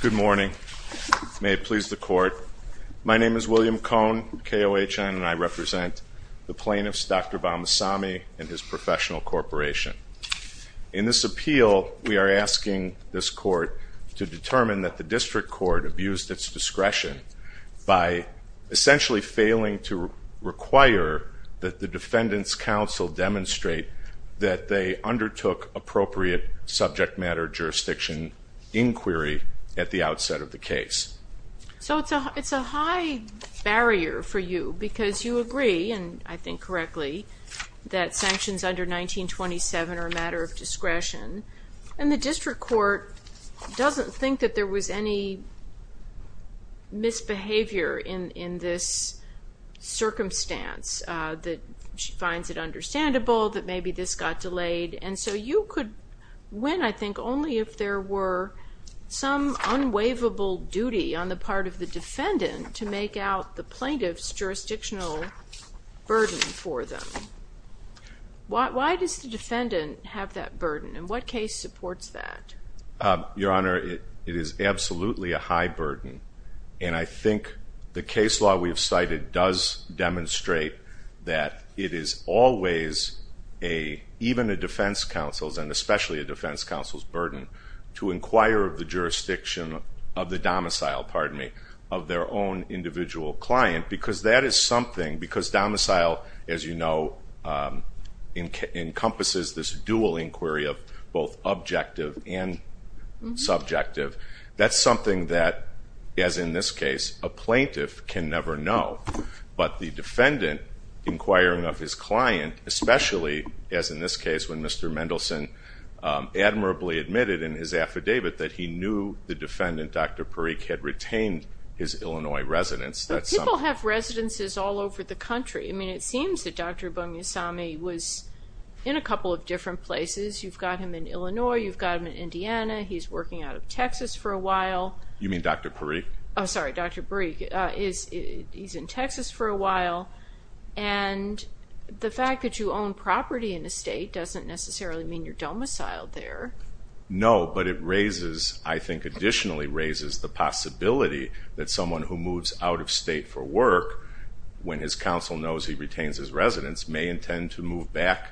Good morning. May it please the Court. My name is William Cohn, KOHN, and I represent the plaintiffs Dr. Bommiasamy and his professional corporation. In this appeal, we are asking this Court to determine that the District Court abused its discretion by essentially failing to require that the Defendant's Counsel demonstrate that they undertook appropriate subject matter jurisdiction inquiry at the outset of the case. So it's a high barrier for you because you agree, and I think correctly, that sanctions under 1927 are a matter of discretion. And the District Court doesn't think that there was any misbehavior in this circumstance, that she finds it understandable that maybe this got delayed. And so you could win, I think, only if there were some unwaivable duty on the part of the Defendant to make out the plaintiff's jurisdictional burden for them. Why does the Defendant have that burden, and what case supports that? Your Honor, it is absolutely a high burden, and I think the case law we've cited does demonstrate that it is always a, even a defense counsel's, and especially a defense counsel's, burden to inquire of the jurisdiction of the domicile, pardon me, of their own individual client. Because that is something, because domicile, as you know, encompasses this dual inquiry of both objective and subjective. That's something that, as in this case, a plaintiff can never know. But the Defendant, inquiring of his client, especially as in this case when Mr. Mendelson admirably admitted in his affidavit that he knew the Defendant, Dr. Parikh, had retained his Illinois residence. But people have residences all over the country. I mean, it seems that Dr. Bumyasamy was in a couple of different places. You've got him in Illinois, you've got him in Indiana, he's working out of Texas for a while. You mean Dr. Parikh? Oh, sorry, Dr. Parikh. He's in Texas for a while, and the fact that you own property in a state doesn't necessarily mean you're domiciled there. No, but it raises, I think additionally raises, the possibility that someone who moves out of state for work, when his counsel knows he retains his residence, may intend to move back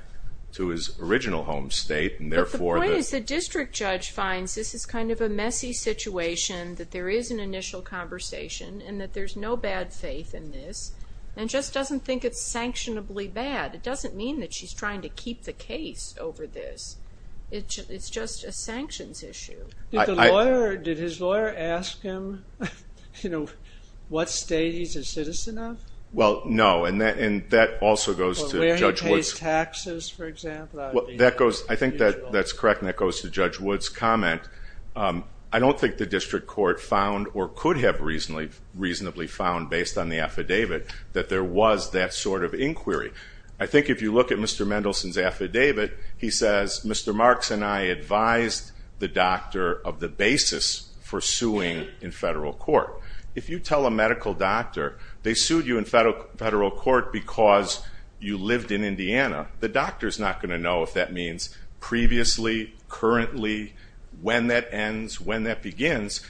to his original home state. But the point is the district judge finds this is kind of a messy situation, that there is an initial conversation, and that there's no bad faith in this, and just doesn't think it's sanctionably bad. It doesn't mean that she's trying to keep the case over this. It's just a sanctions issue. Did his lawyer ask him what state he's a citizen of? Well, no, and that also goes to Judge Woods. Where he pays taxes, for example. I think that's correct, and that goes to Judge Woods' comment. I don't think the district court found or could have reasonably found, based on the affidavit, that there was that sort of inquiry. I think if you look at Mr. Mendelson's affidavit, he says, Mr. Marks and I advised the doctor of the basis for suing in federal court. If you tell a medical doctor they sued you in federal court because you lived in Indiana, the doctor's not going to know if that means previously, currently, when that ends, when that begins.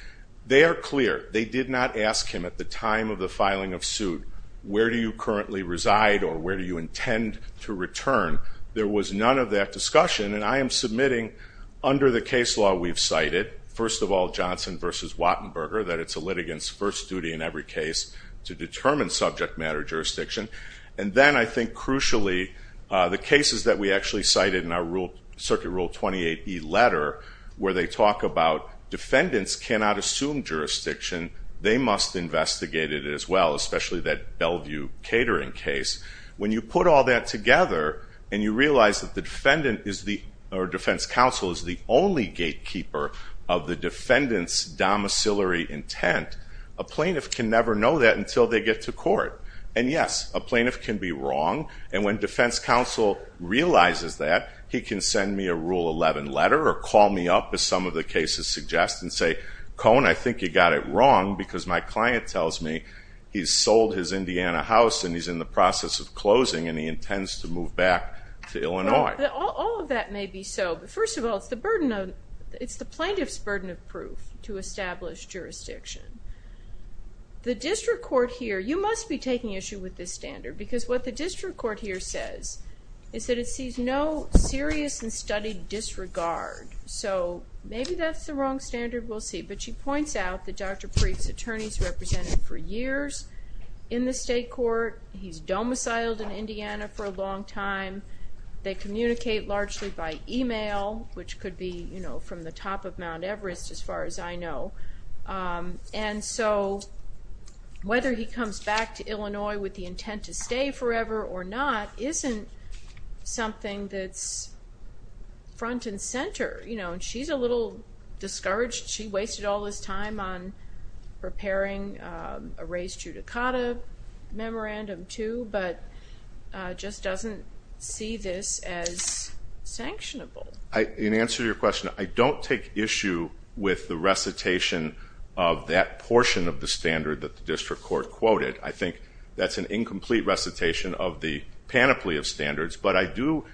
They are clear. They did not ask him at the time of the filing of suit, where do you currently reside or where do you intend to return? There was none of that discussion, and I am submitting under the case law we've cited, first of all, Johnson v. Wattenberger, that it's a litigant's first duty in every case to determine subject matter jurisdiction. And then, I think crucially, the cases that we actually cited in our circuit rule 28E letter, where they talk about defendants cannot assume jurisdiction, they must investigate it as well, especially that Bellevue catering case. When you put all that together and you realize that the defendant or defense counsel is the only gatekeeper of the defendant's domiciliary intent, a plaintiff can never know that until they get to court. And yes, a plaintiff can be wrong, and when defense counsel realizes that, he can send me a Rule 11 letter or call me up, as some of the cases suggest, and say, Cohen, I think you got it wrong, because my client tells me he's sold his Indiana house and he's in the process of closing and he intends to move back to Illinois. All of that may be so, but first of all, it's the plaintiff's burden of proof to establish jurisdiction. The district court here, you must be taking issue with this standard, because what the district court here says is that it sees no serious and studied disregard. So maybe that's the wrong standard, we'll see. But she points out that Dr. Preef's attorney's represented for years in the state court, he's domiciled in Indiana for a long time, they communicate largely by email, which could be from the top of Mount Everest, as far as I know. And so, whether he comes back to Illinois with the intent to stay forever or not, isn't something that's front and center. She's a little discouraged, she wasted all this time on preparing a race judicata memorandum too, but just doesn't see this as sanctionable. In answer to your question, I don't take issue with the recitation of that portion of the standard that the district court quoted. I think that's an incomplete recitation of the panoply of standards, but I do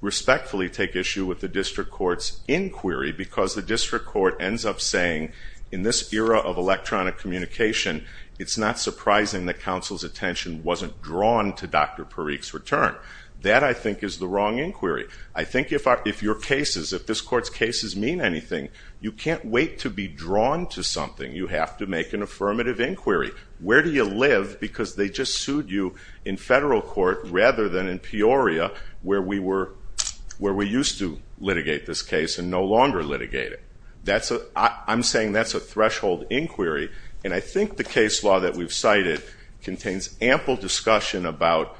respectfully take issue with the district court's inquiry, because the district court ends up saying, in this era of electronic communication, it's not surprising that counsel's attention wasn't drawn to Dr. Preef's return. That, I think, is the wrong inquiry. I think if your cases, if this court's cases mean anything, you can't wait to be drawn to something, you have to make an affirmative inquiry. Where do you live, because they just sued you in federal court rather than in Peoria, where we used to litigate this case and no longer litigate it. I'm saying that's a threshold inquiry, and I think the case law that we've cited contains ample discussion about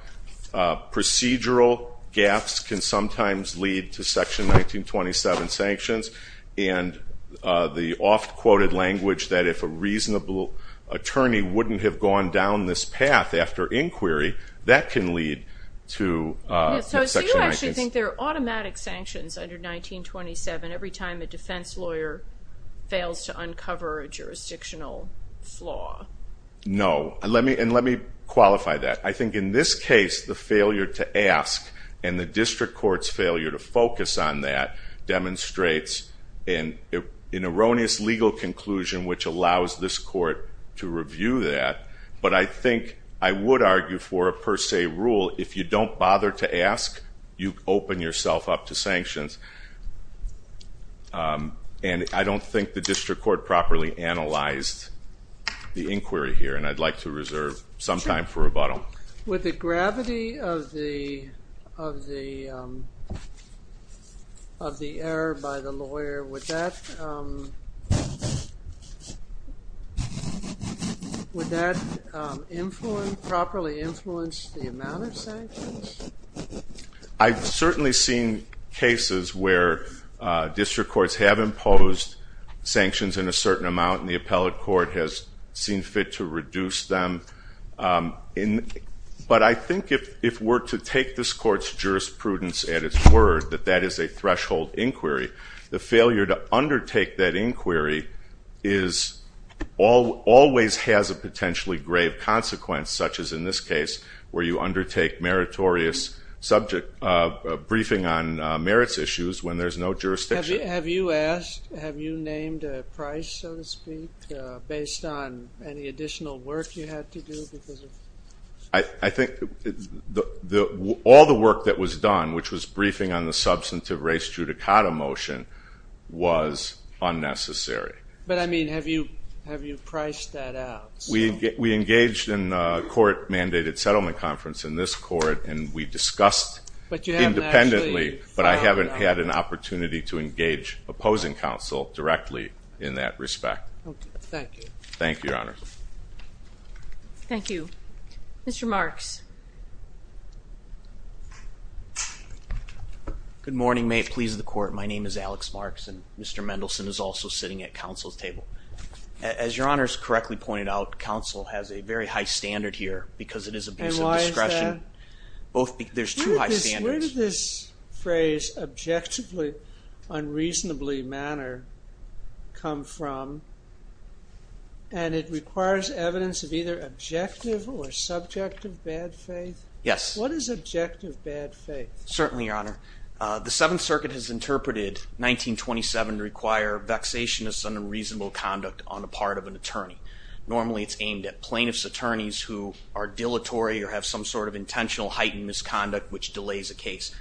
procedural gaps can sometimes lead to Section 1927 sanctions, and the oft-quoted language that if a reasonable attorney wouldn't have gone down this path after inquiry, that can lead to Section 1927. So you actually think there are automatic sanctions under 1927 every time a defense lawyer fails to uncover a jurisdictional flaw? No, and let me qualify that. I think in this case, the failure to ask and the district court's failure to focus on that demonstrates an erroneous legal conclusion which allows this court to review that, but I think I would argue for a per se rule, if you don't bother to ask, you open yourself up to sanctions. And I don't think the district court properly analyzed the inquiry here, and I'd like to reserve some time for rebuttal. Would the gravity of the error by the lawyer, would that properly influence the amount of sanctions? I've certainly seen cases where district courts have imposed sanctions in a certain amount, and the appellate court has seen fit to reduce them, but I think if we're to take this court's jurisprudence at its word that that is a threshold inquiry, the failure to undertake that inquiry always has a potentially grave consequence, such as in this case where you undertake meritorious briefing on merits issues when there's no jurisdiction. Have you asked, have you named a price, so to speak, based on any additional work you had to do? I think all the work that was done, which was briefing on the substantive race judicata motion, was unnecessary. But, I mean, have you priced that out? We engaged in a court-mandated settlement conference in this court, and we discussed independently, but I haven't had an opportunity to engage opposing counsel directly in that respect. Thank you. Thank you, Your Honors. Thank you. Mr. Marks. Good morning. May it please the Court, my name is Alex Marks, and Mr. Mendelson is also sitting at counsel's table. As Your Honors correctly pointed out, counsel has a very high standard here because it is a base of discretion. And why is that? There's two high standards. Where did this phrase, objectively, unreasonably manner, come from? And it requires evidence of either objective or subjective bad faith? Yes. What is objective bad faith? Certainly, Your Honor. The Seventh Circuit has interpreted 1927 to require vexationist and unreasonable conduct on the part of an attorney. Normally, it's aimed at plaintiff's attorneys who are dilatory or have some sort of intentional heightened misconduct, which delays a case.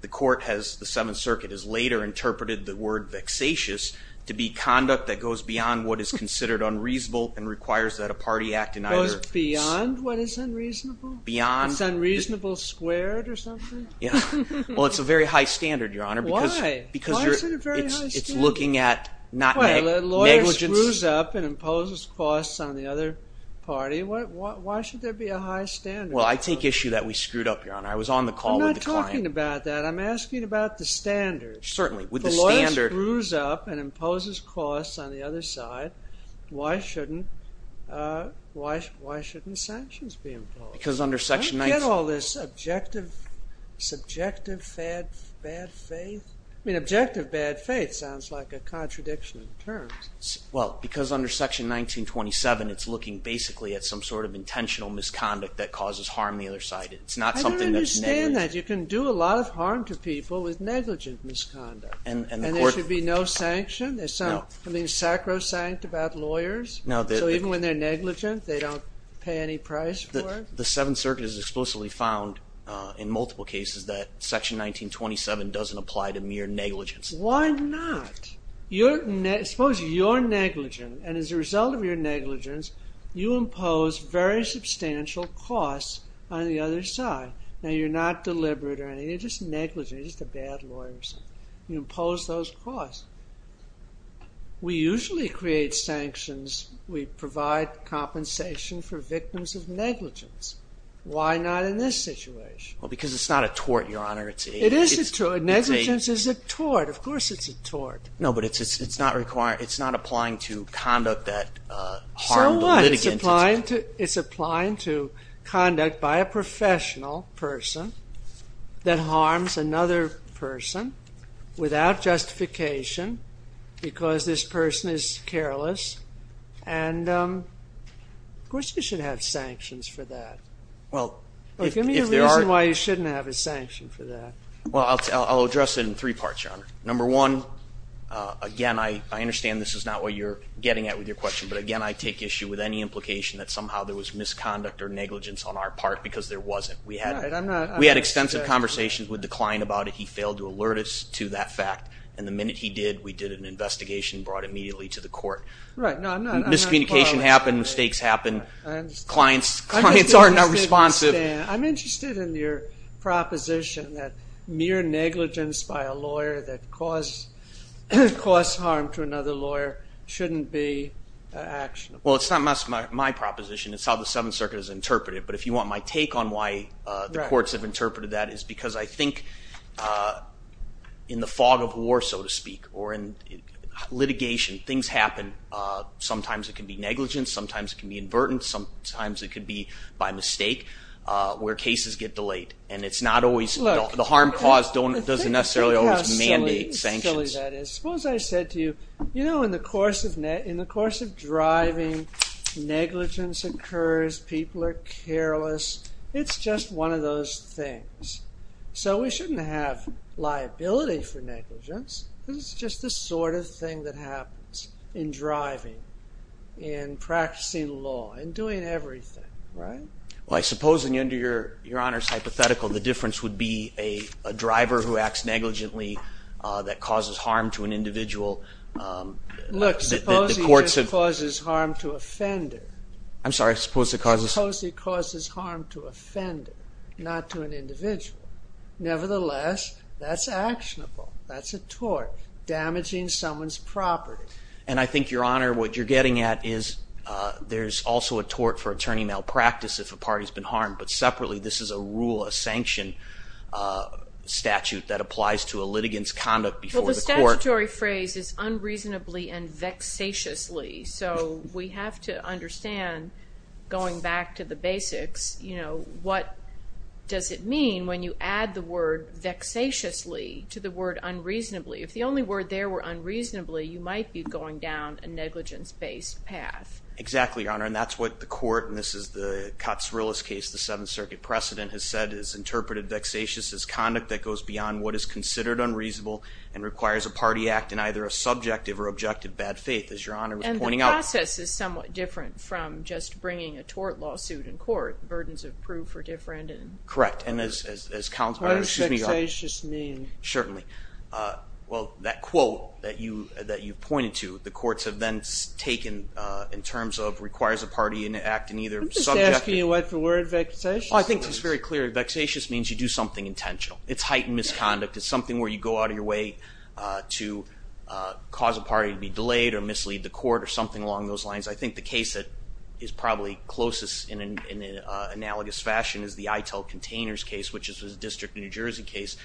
The court has, the Seventh Circuit, has later interpreted the word vexatious to be conduct that goes beyond what is considered unreasonable and requires that a party act in either... Goes beyond what is unreasonable? Beyond... It's unreasonable squared or something? Yeah. Well, it's a very high standard, Your Honor. Why? Because you're... Why is it a very high standard? It's looking at not negligence... Well, a lawyer screws up and imposes costs on the other party. Why should there be a high standard? Well, I take issue that we screwed up, Your Honor. I was on the call with the client. I'm not talking about that. I'm asking about the standard. Certainly. With the standard... If a lawyer screws up and imposes costs on the other side, why shouldn't sanctions be imposed? Because under Section 9... I get all this objective, subjective bad faith. I mean, objective bad faith sounds like a contradiction in terms. Well, because under Section 1927, it's looking basically at some sort of intentional misconduct that causes harm on the other side. It's not something that's negligent. I don't understand that. You can do a lot of harm to people with negligent misconduct. And the court... And there should be no sanction? No. There's something sacrosanct about lawyers? No. So even when they're negligent, they don't pay any price for it? The Seventh Circuit has explicitly found in multiple cases that Section 1927 doesn't apply to mere negligence. Why not? Suppose you're negligent. And as a result of your negligence, you impose very substantial costs on the other side. Now, you're not deliberate or anything. You're just negligent. You're just a bad lawyer or something. You impose those costs. We usually create sanctions. We provide compensation for victims of negligence. Why not in this situation? Well, because it's not a tort, Your Honor. It is a tort. Negligence is a tort. Of course it's a tort. No, but it's not applying to conduct that harmed litigant. So what? It's applying to conduct by a professional person that harms another person without justification because this person is careless. And of course you should have sanctions for that. Give me a reason why you shouldn't have a sanction for that. Well, I'll address it in three parts, Your Honor. Number one, again, I understand this is not what you're getting at with your question. But, again, I take issue with any implication that somehow there was misconduct or negligence on our part because there wasn't. We had extensive conversations with the client about it. He failed to alert us to that fact. And the minute he did, we did an investigation and brought it immediately to the court. Miscommunication happened. Mistakes happened. Clients are not responsive. I'm interested in your proposition that mere negligence by a lawyer that caused harm to another lawyer shouldn't be actionable. Well, it's not my proposition. It's how the Seventh Circuit has interpreted it. But if you want my take on why the courts have interpreted that, it's because I think in the fog of war, so to speak, or in litigation, things happen. Sometimes it can be negligence. Sometimes it can be invertence. Sometimes it can be by mistake where cases get delayed. And it's not always – the harm caused doesn't necessarily always mandate sanctions. Look how silly that is. Suppose I said to you, you know, in the course of driving, negligence occurs. People are careless. It's just one of those things. So we shouldn't have liability for negligence. It's just the sort of thing that happens in driving, in practicing law, in doing everything, right? Well, I suppose under your Honor's hypothetical, the difference would be a driver who acts negligently that causes harm to an individual. Look, suppose he just causes harm to offender. I'm sorry. Suppose he causes harm to offender, not to an individual. Nevertheless, that's actionable. That's a tort, damaging someone's property. And I think, Your Honor, what you're getting at is there's also a tort for attorney malpractice if a party's been harmed. But separately, this is a rule, a sanction statute that applies to a litigant's conduct before the court. Well, the statutory phrase is unreasonably and vexatiously. So we have to understand, going back to the basics, you know, what does it mean when you add the word vexatiously to the word unreasonably? If the only word there were unreasonably, you might be going down a negligence-based path. Exactly, Your Honor. And that's what the court, and this is the Kotzrillis case, the Seventh Circuit precedent, has said is interpreted vexatious as conduct that goes beyond what is considered unreasonable and requires a party act in either a subjective or objective bad faith, as Your Honor was pointing out. The process is somewhat different from just bringing a tort lawsuit in court. The burdens of proof are different. Correct. What does vexatious mean? Certainly. Well, that quote that you pointed to, the courts have then taken in terms of requires a party act in either subjective I'm just asking you what the word vexatious means. Oh, I think it's very clear. Vexatious means you do something intentional. It's heightened misconduct. It's something where you go out of your way to cause a party to be delayed or mislead the court or something along those lines. I think the case that is probably closest in an analogous fashion is the Itell Containers case, which is a District of New Jersey case.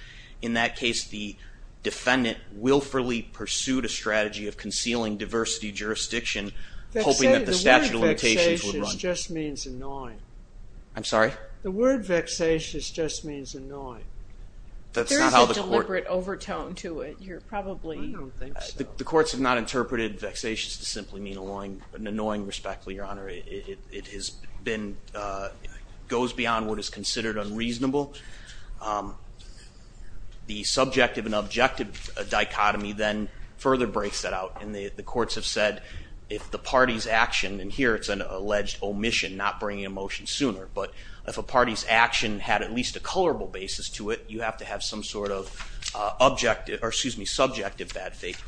In that case, the defendant willfully pursued a strategy of concealing diversity jurisdiction, hoping that the statute of limitations would run. The word vexatious just means annoying. I'm sorry? The word vexatious just means annoying. There's a deliberate overtone to it. You're probably... I don't think so. The courts have not interpreted vexatious to simply mean annoying respectfully, Your Honor. It goes beyond what is considered unreasonable. The subjective and objective dichotomy then further breaks that out, and the courts have said if the party's action, and here it's an alleged omission, not bringing a motion sooner, but if a party's action had at least a colorable basis to it, you have to have some sort of subjective bad faith.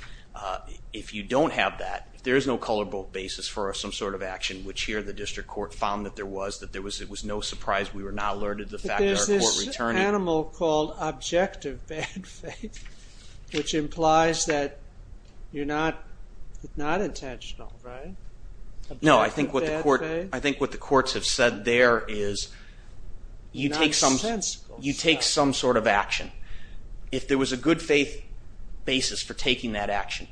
If you don't have that, there is no colorable basis for some sort of action, which here the district court found that there was. It was no surprise. We were not alerted to the fact that our court returned it. But there's this animal called objective bad faith, which implies that you're not intentional, right? Objective bad faith? I think what the courts have said there is you take some sort of action. If there was a good faith basis for taking that action,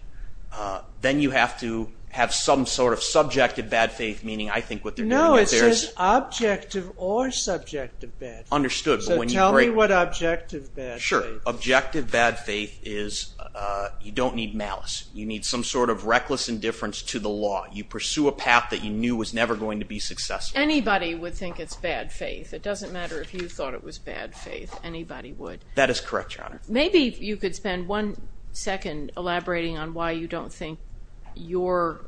then you have to have some sort of subjective bad faith, meaning I think what they're doing out there is... No, it says objective or subjective bad faith. Understood. So tell me what objective bad faith is. Sure. Objective bad faith is you don't need malice. You need some sort of reckless indifference to the law. You pursue a path that you knew was never going to be successful. Anybody would think it's bad faith. It doesn't matter if you thought it was bad faith. Anybody would. That is correct, Your Honor. Maybe you could spend one second elaborating on why you don't think your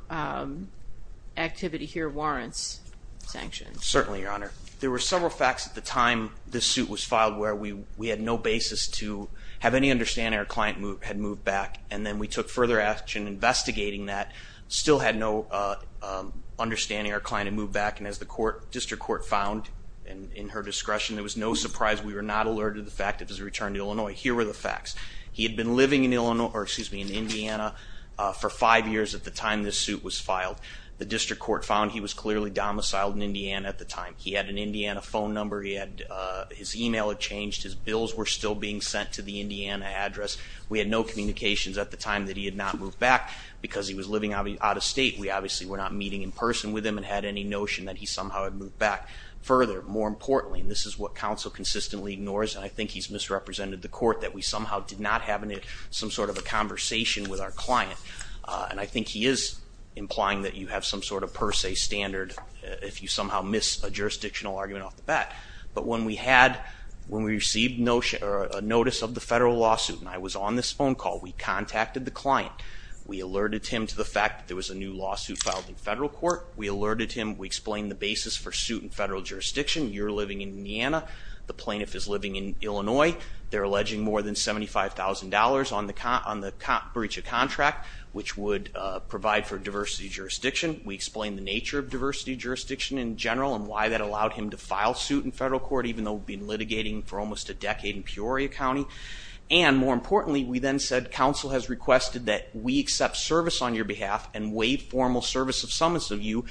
activity here warrants sanctions. Certainly, Your Honor. There were several facts at the time this suit was filed where we had no basis to have any understanding our client had moved back, and then we took further action investigating that, still had no understanding our client had moved back, and as the district court found in her discretion, it was no surprise we were not alerted to the fact of his return to Illinois. Here were the facts. He had been living in Indiana for five years at the time this suit was filed. The district court found he was clearly domiciled in Indiana at the time. He had an Indiana phone number. His email had changed. His bills were still being sent to the Indiana address. We had no communications at the time that he had not moved back because he was living out of state. We obviously were not meeting in person with him and had any notion that he somehow had moved back. Further, more importantly, and this is what counsel consistently ignores, and I think he's misrepresented the court, that we somehow did not have some sort of a conversation with our client, and I think he is implying that you have some sort of per se standard if you somehow miss a jurisdictional argument off the bat. But when we received a notice of the federal lawsuit, and I was on this phone call, we contacted the client. We alerted him to the fact that there was a new lawsuit filed in federal court. We alerted him. We explained the basis for suit in federal jurisdiction. You're living in Indiana. The plaintiff is living in Illinois. They're alleging more than $75,000 on the breach of contract, which would provide for diversity of jurisdiction. We explained the nature of diversity of jurisdiction in general and why that allowed him to file suit in federal court, even though we've been litigating for almost a decade in Peoria County. And more importantly, we then said, counsel has requested that we accept service on your behalf and waive formal service of summons of you,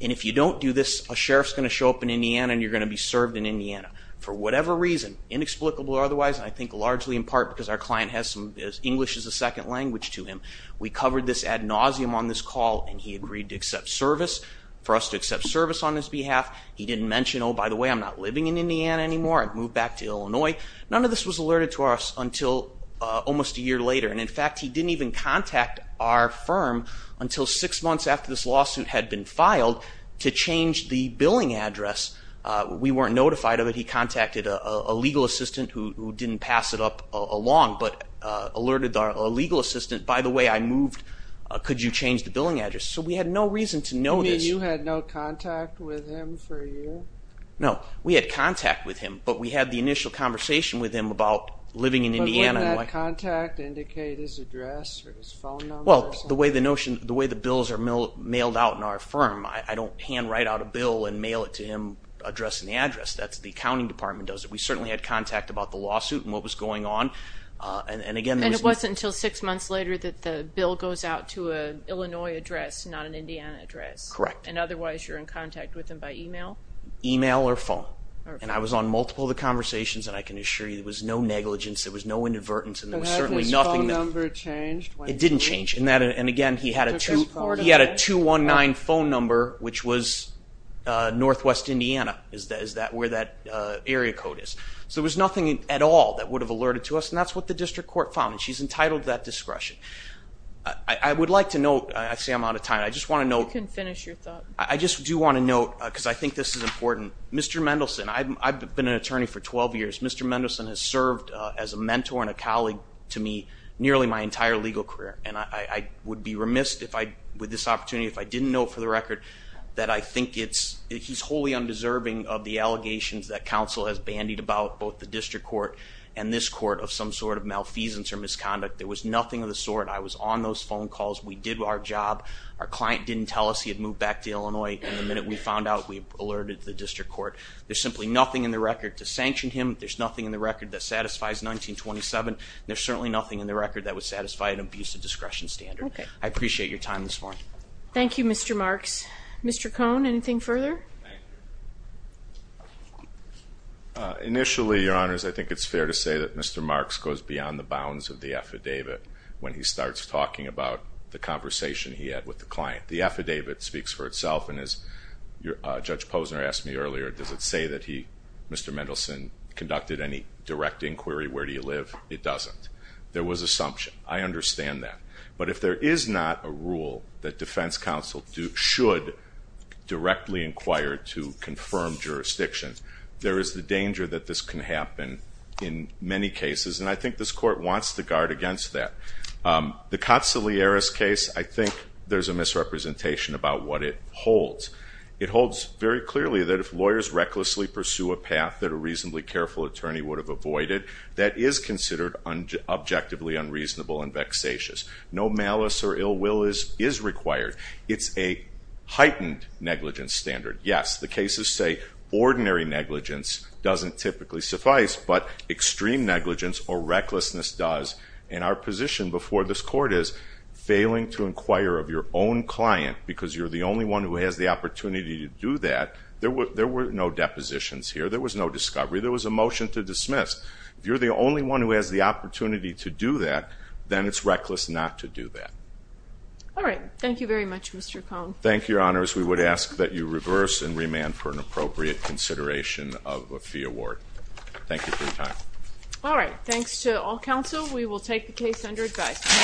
and if you don't do this, a sheriff's going to show up in Indiana and you're going to be served in Indiana. For whatever reason, inexplicable or otherwise, and I think largely in part because our client has English as a second language to him, we covered this ad nauseum on this call, and he agreed to accept service, for us to accept service on his behalf. He didn't mention, oh, by the way, I'm not living in Indiana anymore. I've moved back to Illinois. None of this was alerted to us until almost a year later, and in fact, he didn't even contact our firm until six months after this lawsuit had been filed to change the billing address. We weren't notified of it. He contacted a legal assistant who didn't pass it up along, but alerted a legal assistant, by the way, I moved. Could you change the billing address? So we had no reason to know this. You mean you had no contact with him for a year? No, we had contact with him, but we had the initial conversation with him about living in Indiana. But wouldn't that contact indicate his address or his phone number or something? Well, the way the bills are mailed out in our firm, I don't hand write out a bill and mail it to him addressing the address. That's what the accounting department does. We certainly had contact about the lawsuit and what was going on. And it wasn't until six months later that the bill goes out to an Illinois address, not an Indiana address? Correct. And otherwise, you're in contact with him by email? Email or phone. And I was on multiple of the conversations, and I can assure you there was no negligence, there was no inadvertence, and there was certainly nothing. And has his phone number changed? It didn't change. And again, he had a 219 phone number, which was northwest Indiana, is where that area code is. So there was nothing at all that would have alerted to us, and that's what the district court found, and she's entitled to that discretion. I would like to note, I see I'm out of time, I just want to note. You can finish your thought. I just do want to note, because I think this is important, Mr. Mendelson, I've been an attorney for 12 years. Mr. Mendelson has served as a mentor and a colleague to me nearly my entire legal career, and I would be remiss with this opportunity if I didn't know for the record that I think he's wholly undeserving of the allegations that counsel has bandied about, both the district court and this court, of some sort of malfeasance or misconduct. There was nothing of the sort. I was on those phone calls. We did our job. Our client didn't tell us he had moved back to Illinois, and the minute we found out we alerted the district court. There's simply nothing in the record to sanction him. There's nothing in the record that satisfies 1927, and there's certainly nothing in the record that would satisfy an abusive discretion standard. I appreciate your time this morning. Thank you, Mr. Marks. Mr. Cohn, anything further? Initially, Your Honors, I think it's fair to say that Mr. Marks goes beyond the bounds of the affidavit when he starts talking about the conversation he had with the client. The affidavit speaks for itself, and as Judge Posner asked me earlier, does it say that he, Mr. Mendelson, conducted any direct inquiry, where do you live? It doesn't. There was assumption. I understand that. But if there is not a rule that defense counsel should directly inquire to confirm jurisdiction, there is the danger that this can happen in many cases, and I think this court wants to guard against that. The Cotsalieras case, I think there's a misrepresentation about what it holds. It holds very clearly that if lawyers recklessly pursue a path that a reasonably careful attorney would have avoided, that is considered objectively unreasonable and vexatious. No malice or ill will is required. It's a heightened negligence standard. Yes, the cases say ordinary negligence doesn't typically suffice, but extreme negligence or recklessness does, and our position before this court is failing to inquire of your own client because you're the only one who has the opportunity to do that, there were no depositions here. There was no discovery. There was a motion to dismiss. If you're the only one who has the opportunity to do that, then it's reckless not to do that. All right. Thank you very much, Mr. Cohn. Thank you, Your Honors. We would ask that you reverse and remand for an appropriate consideration of a fee award. Thank you for your time. All right. Thanks to all counsel. We will take the case under advice.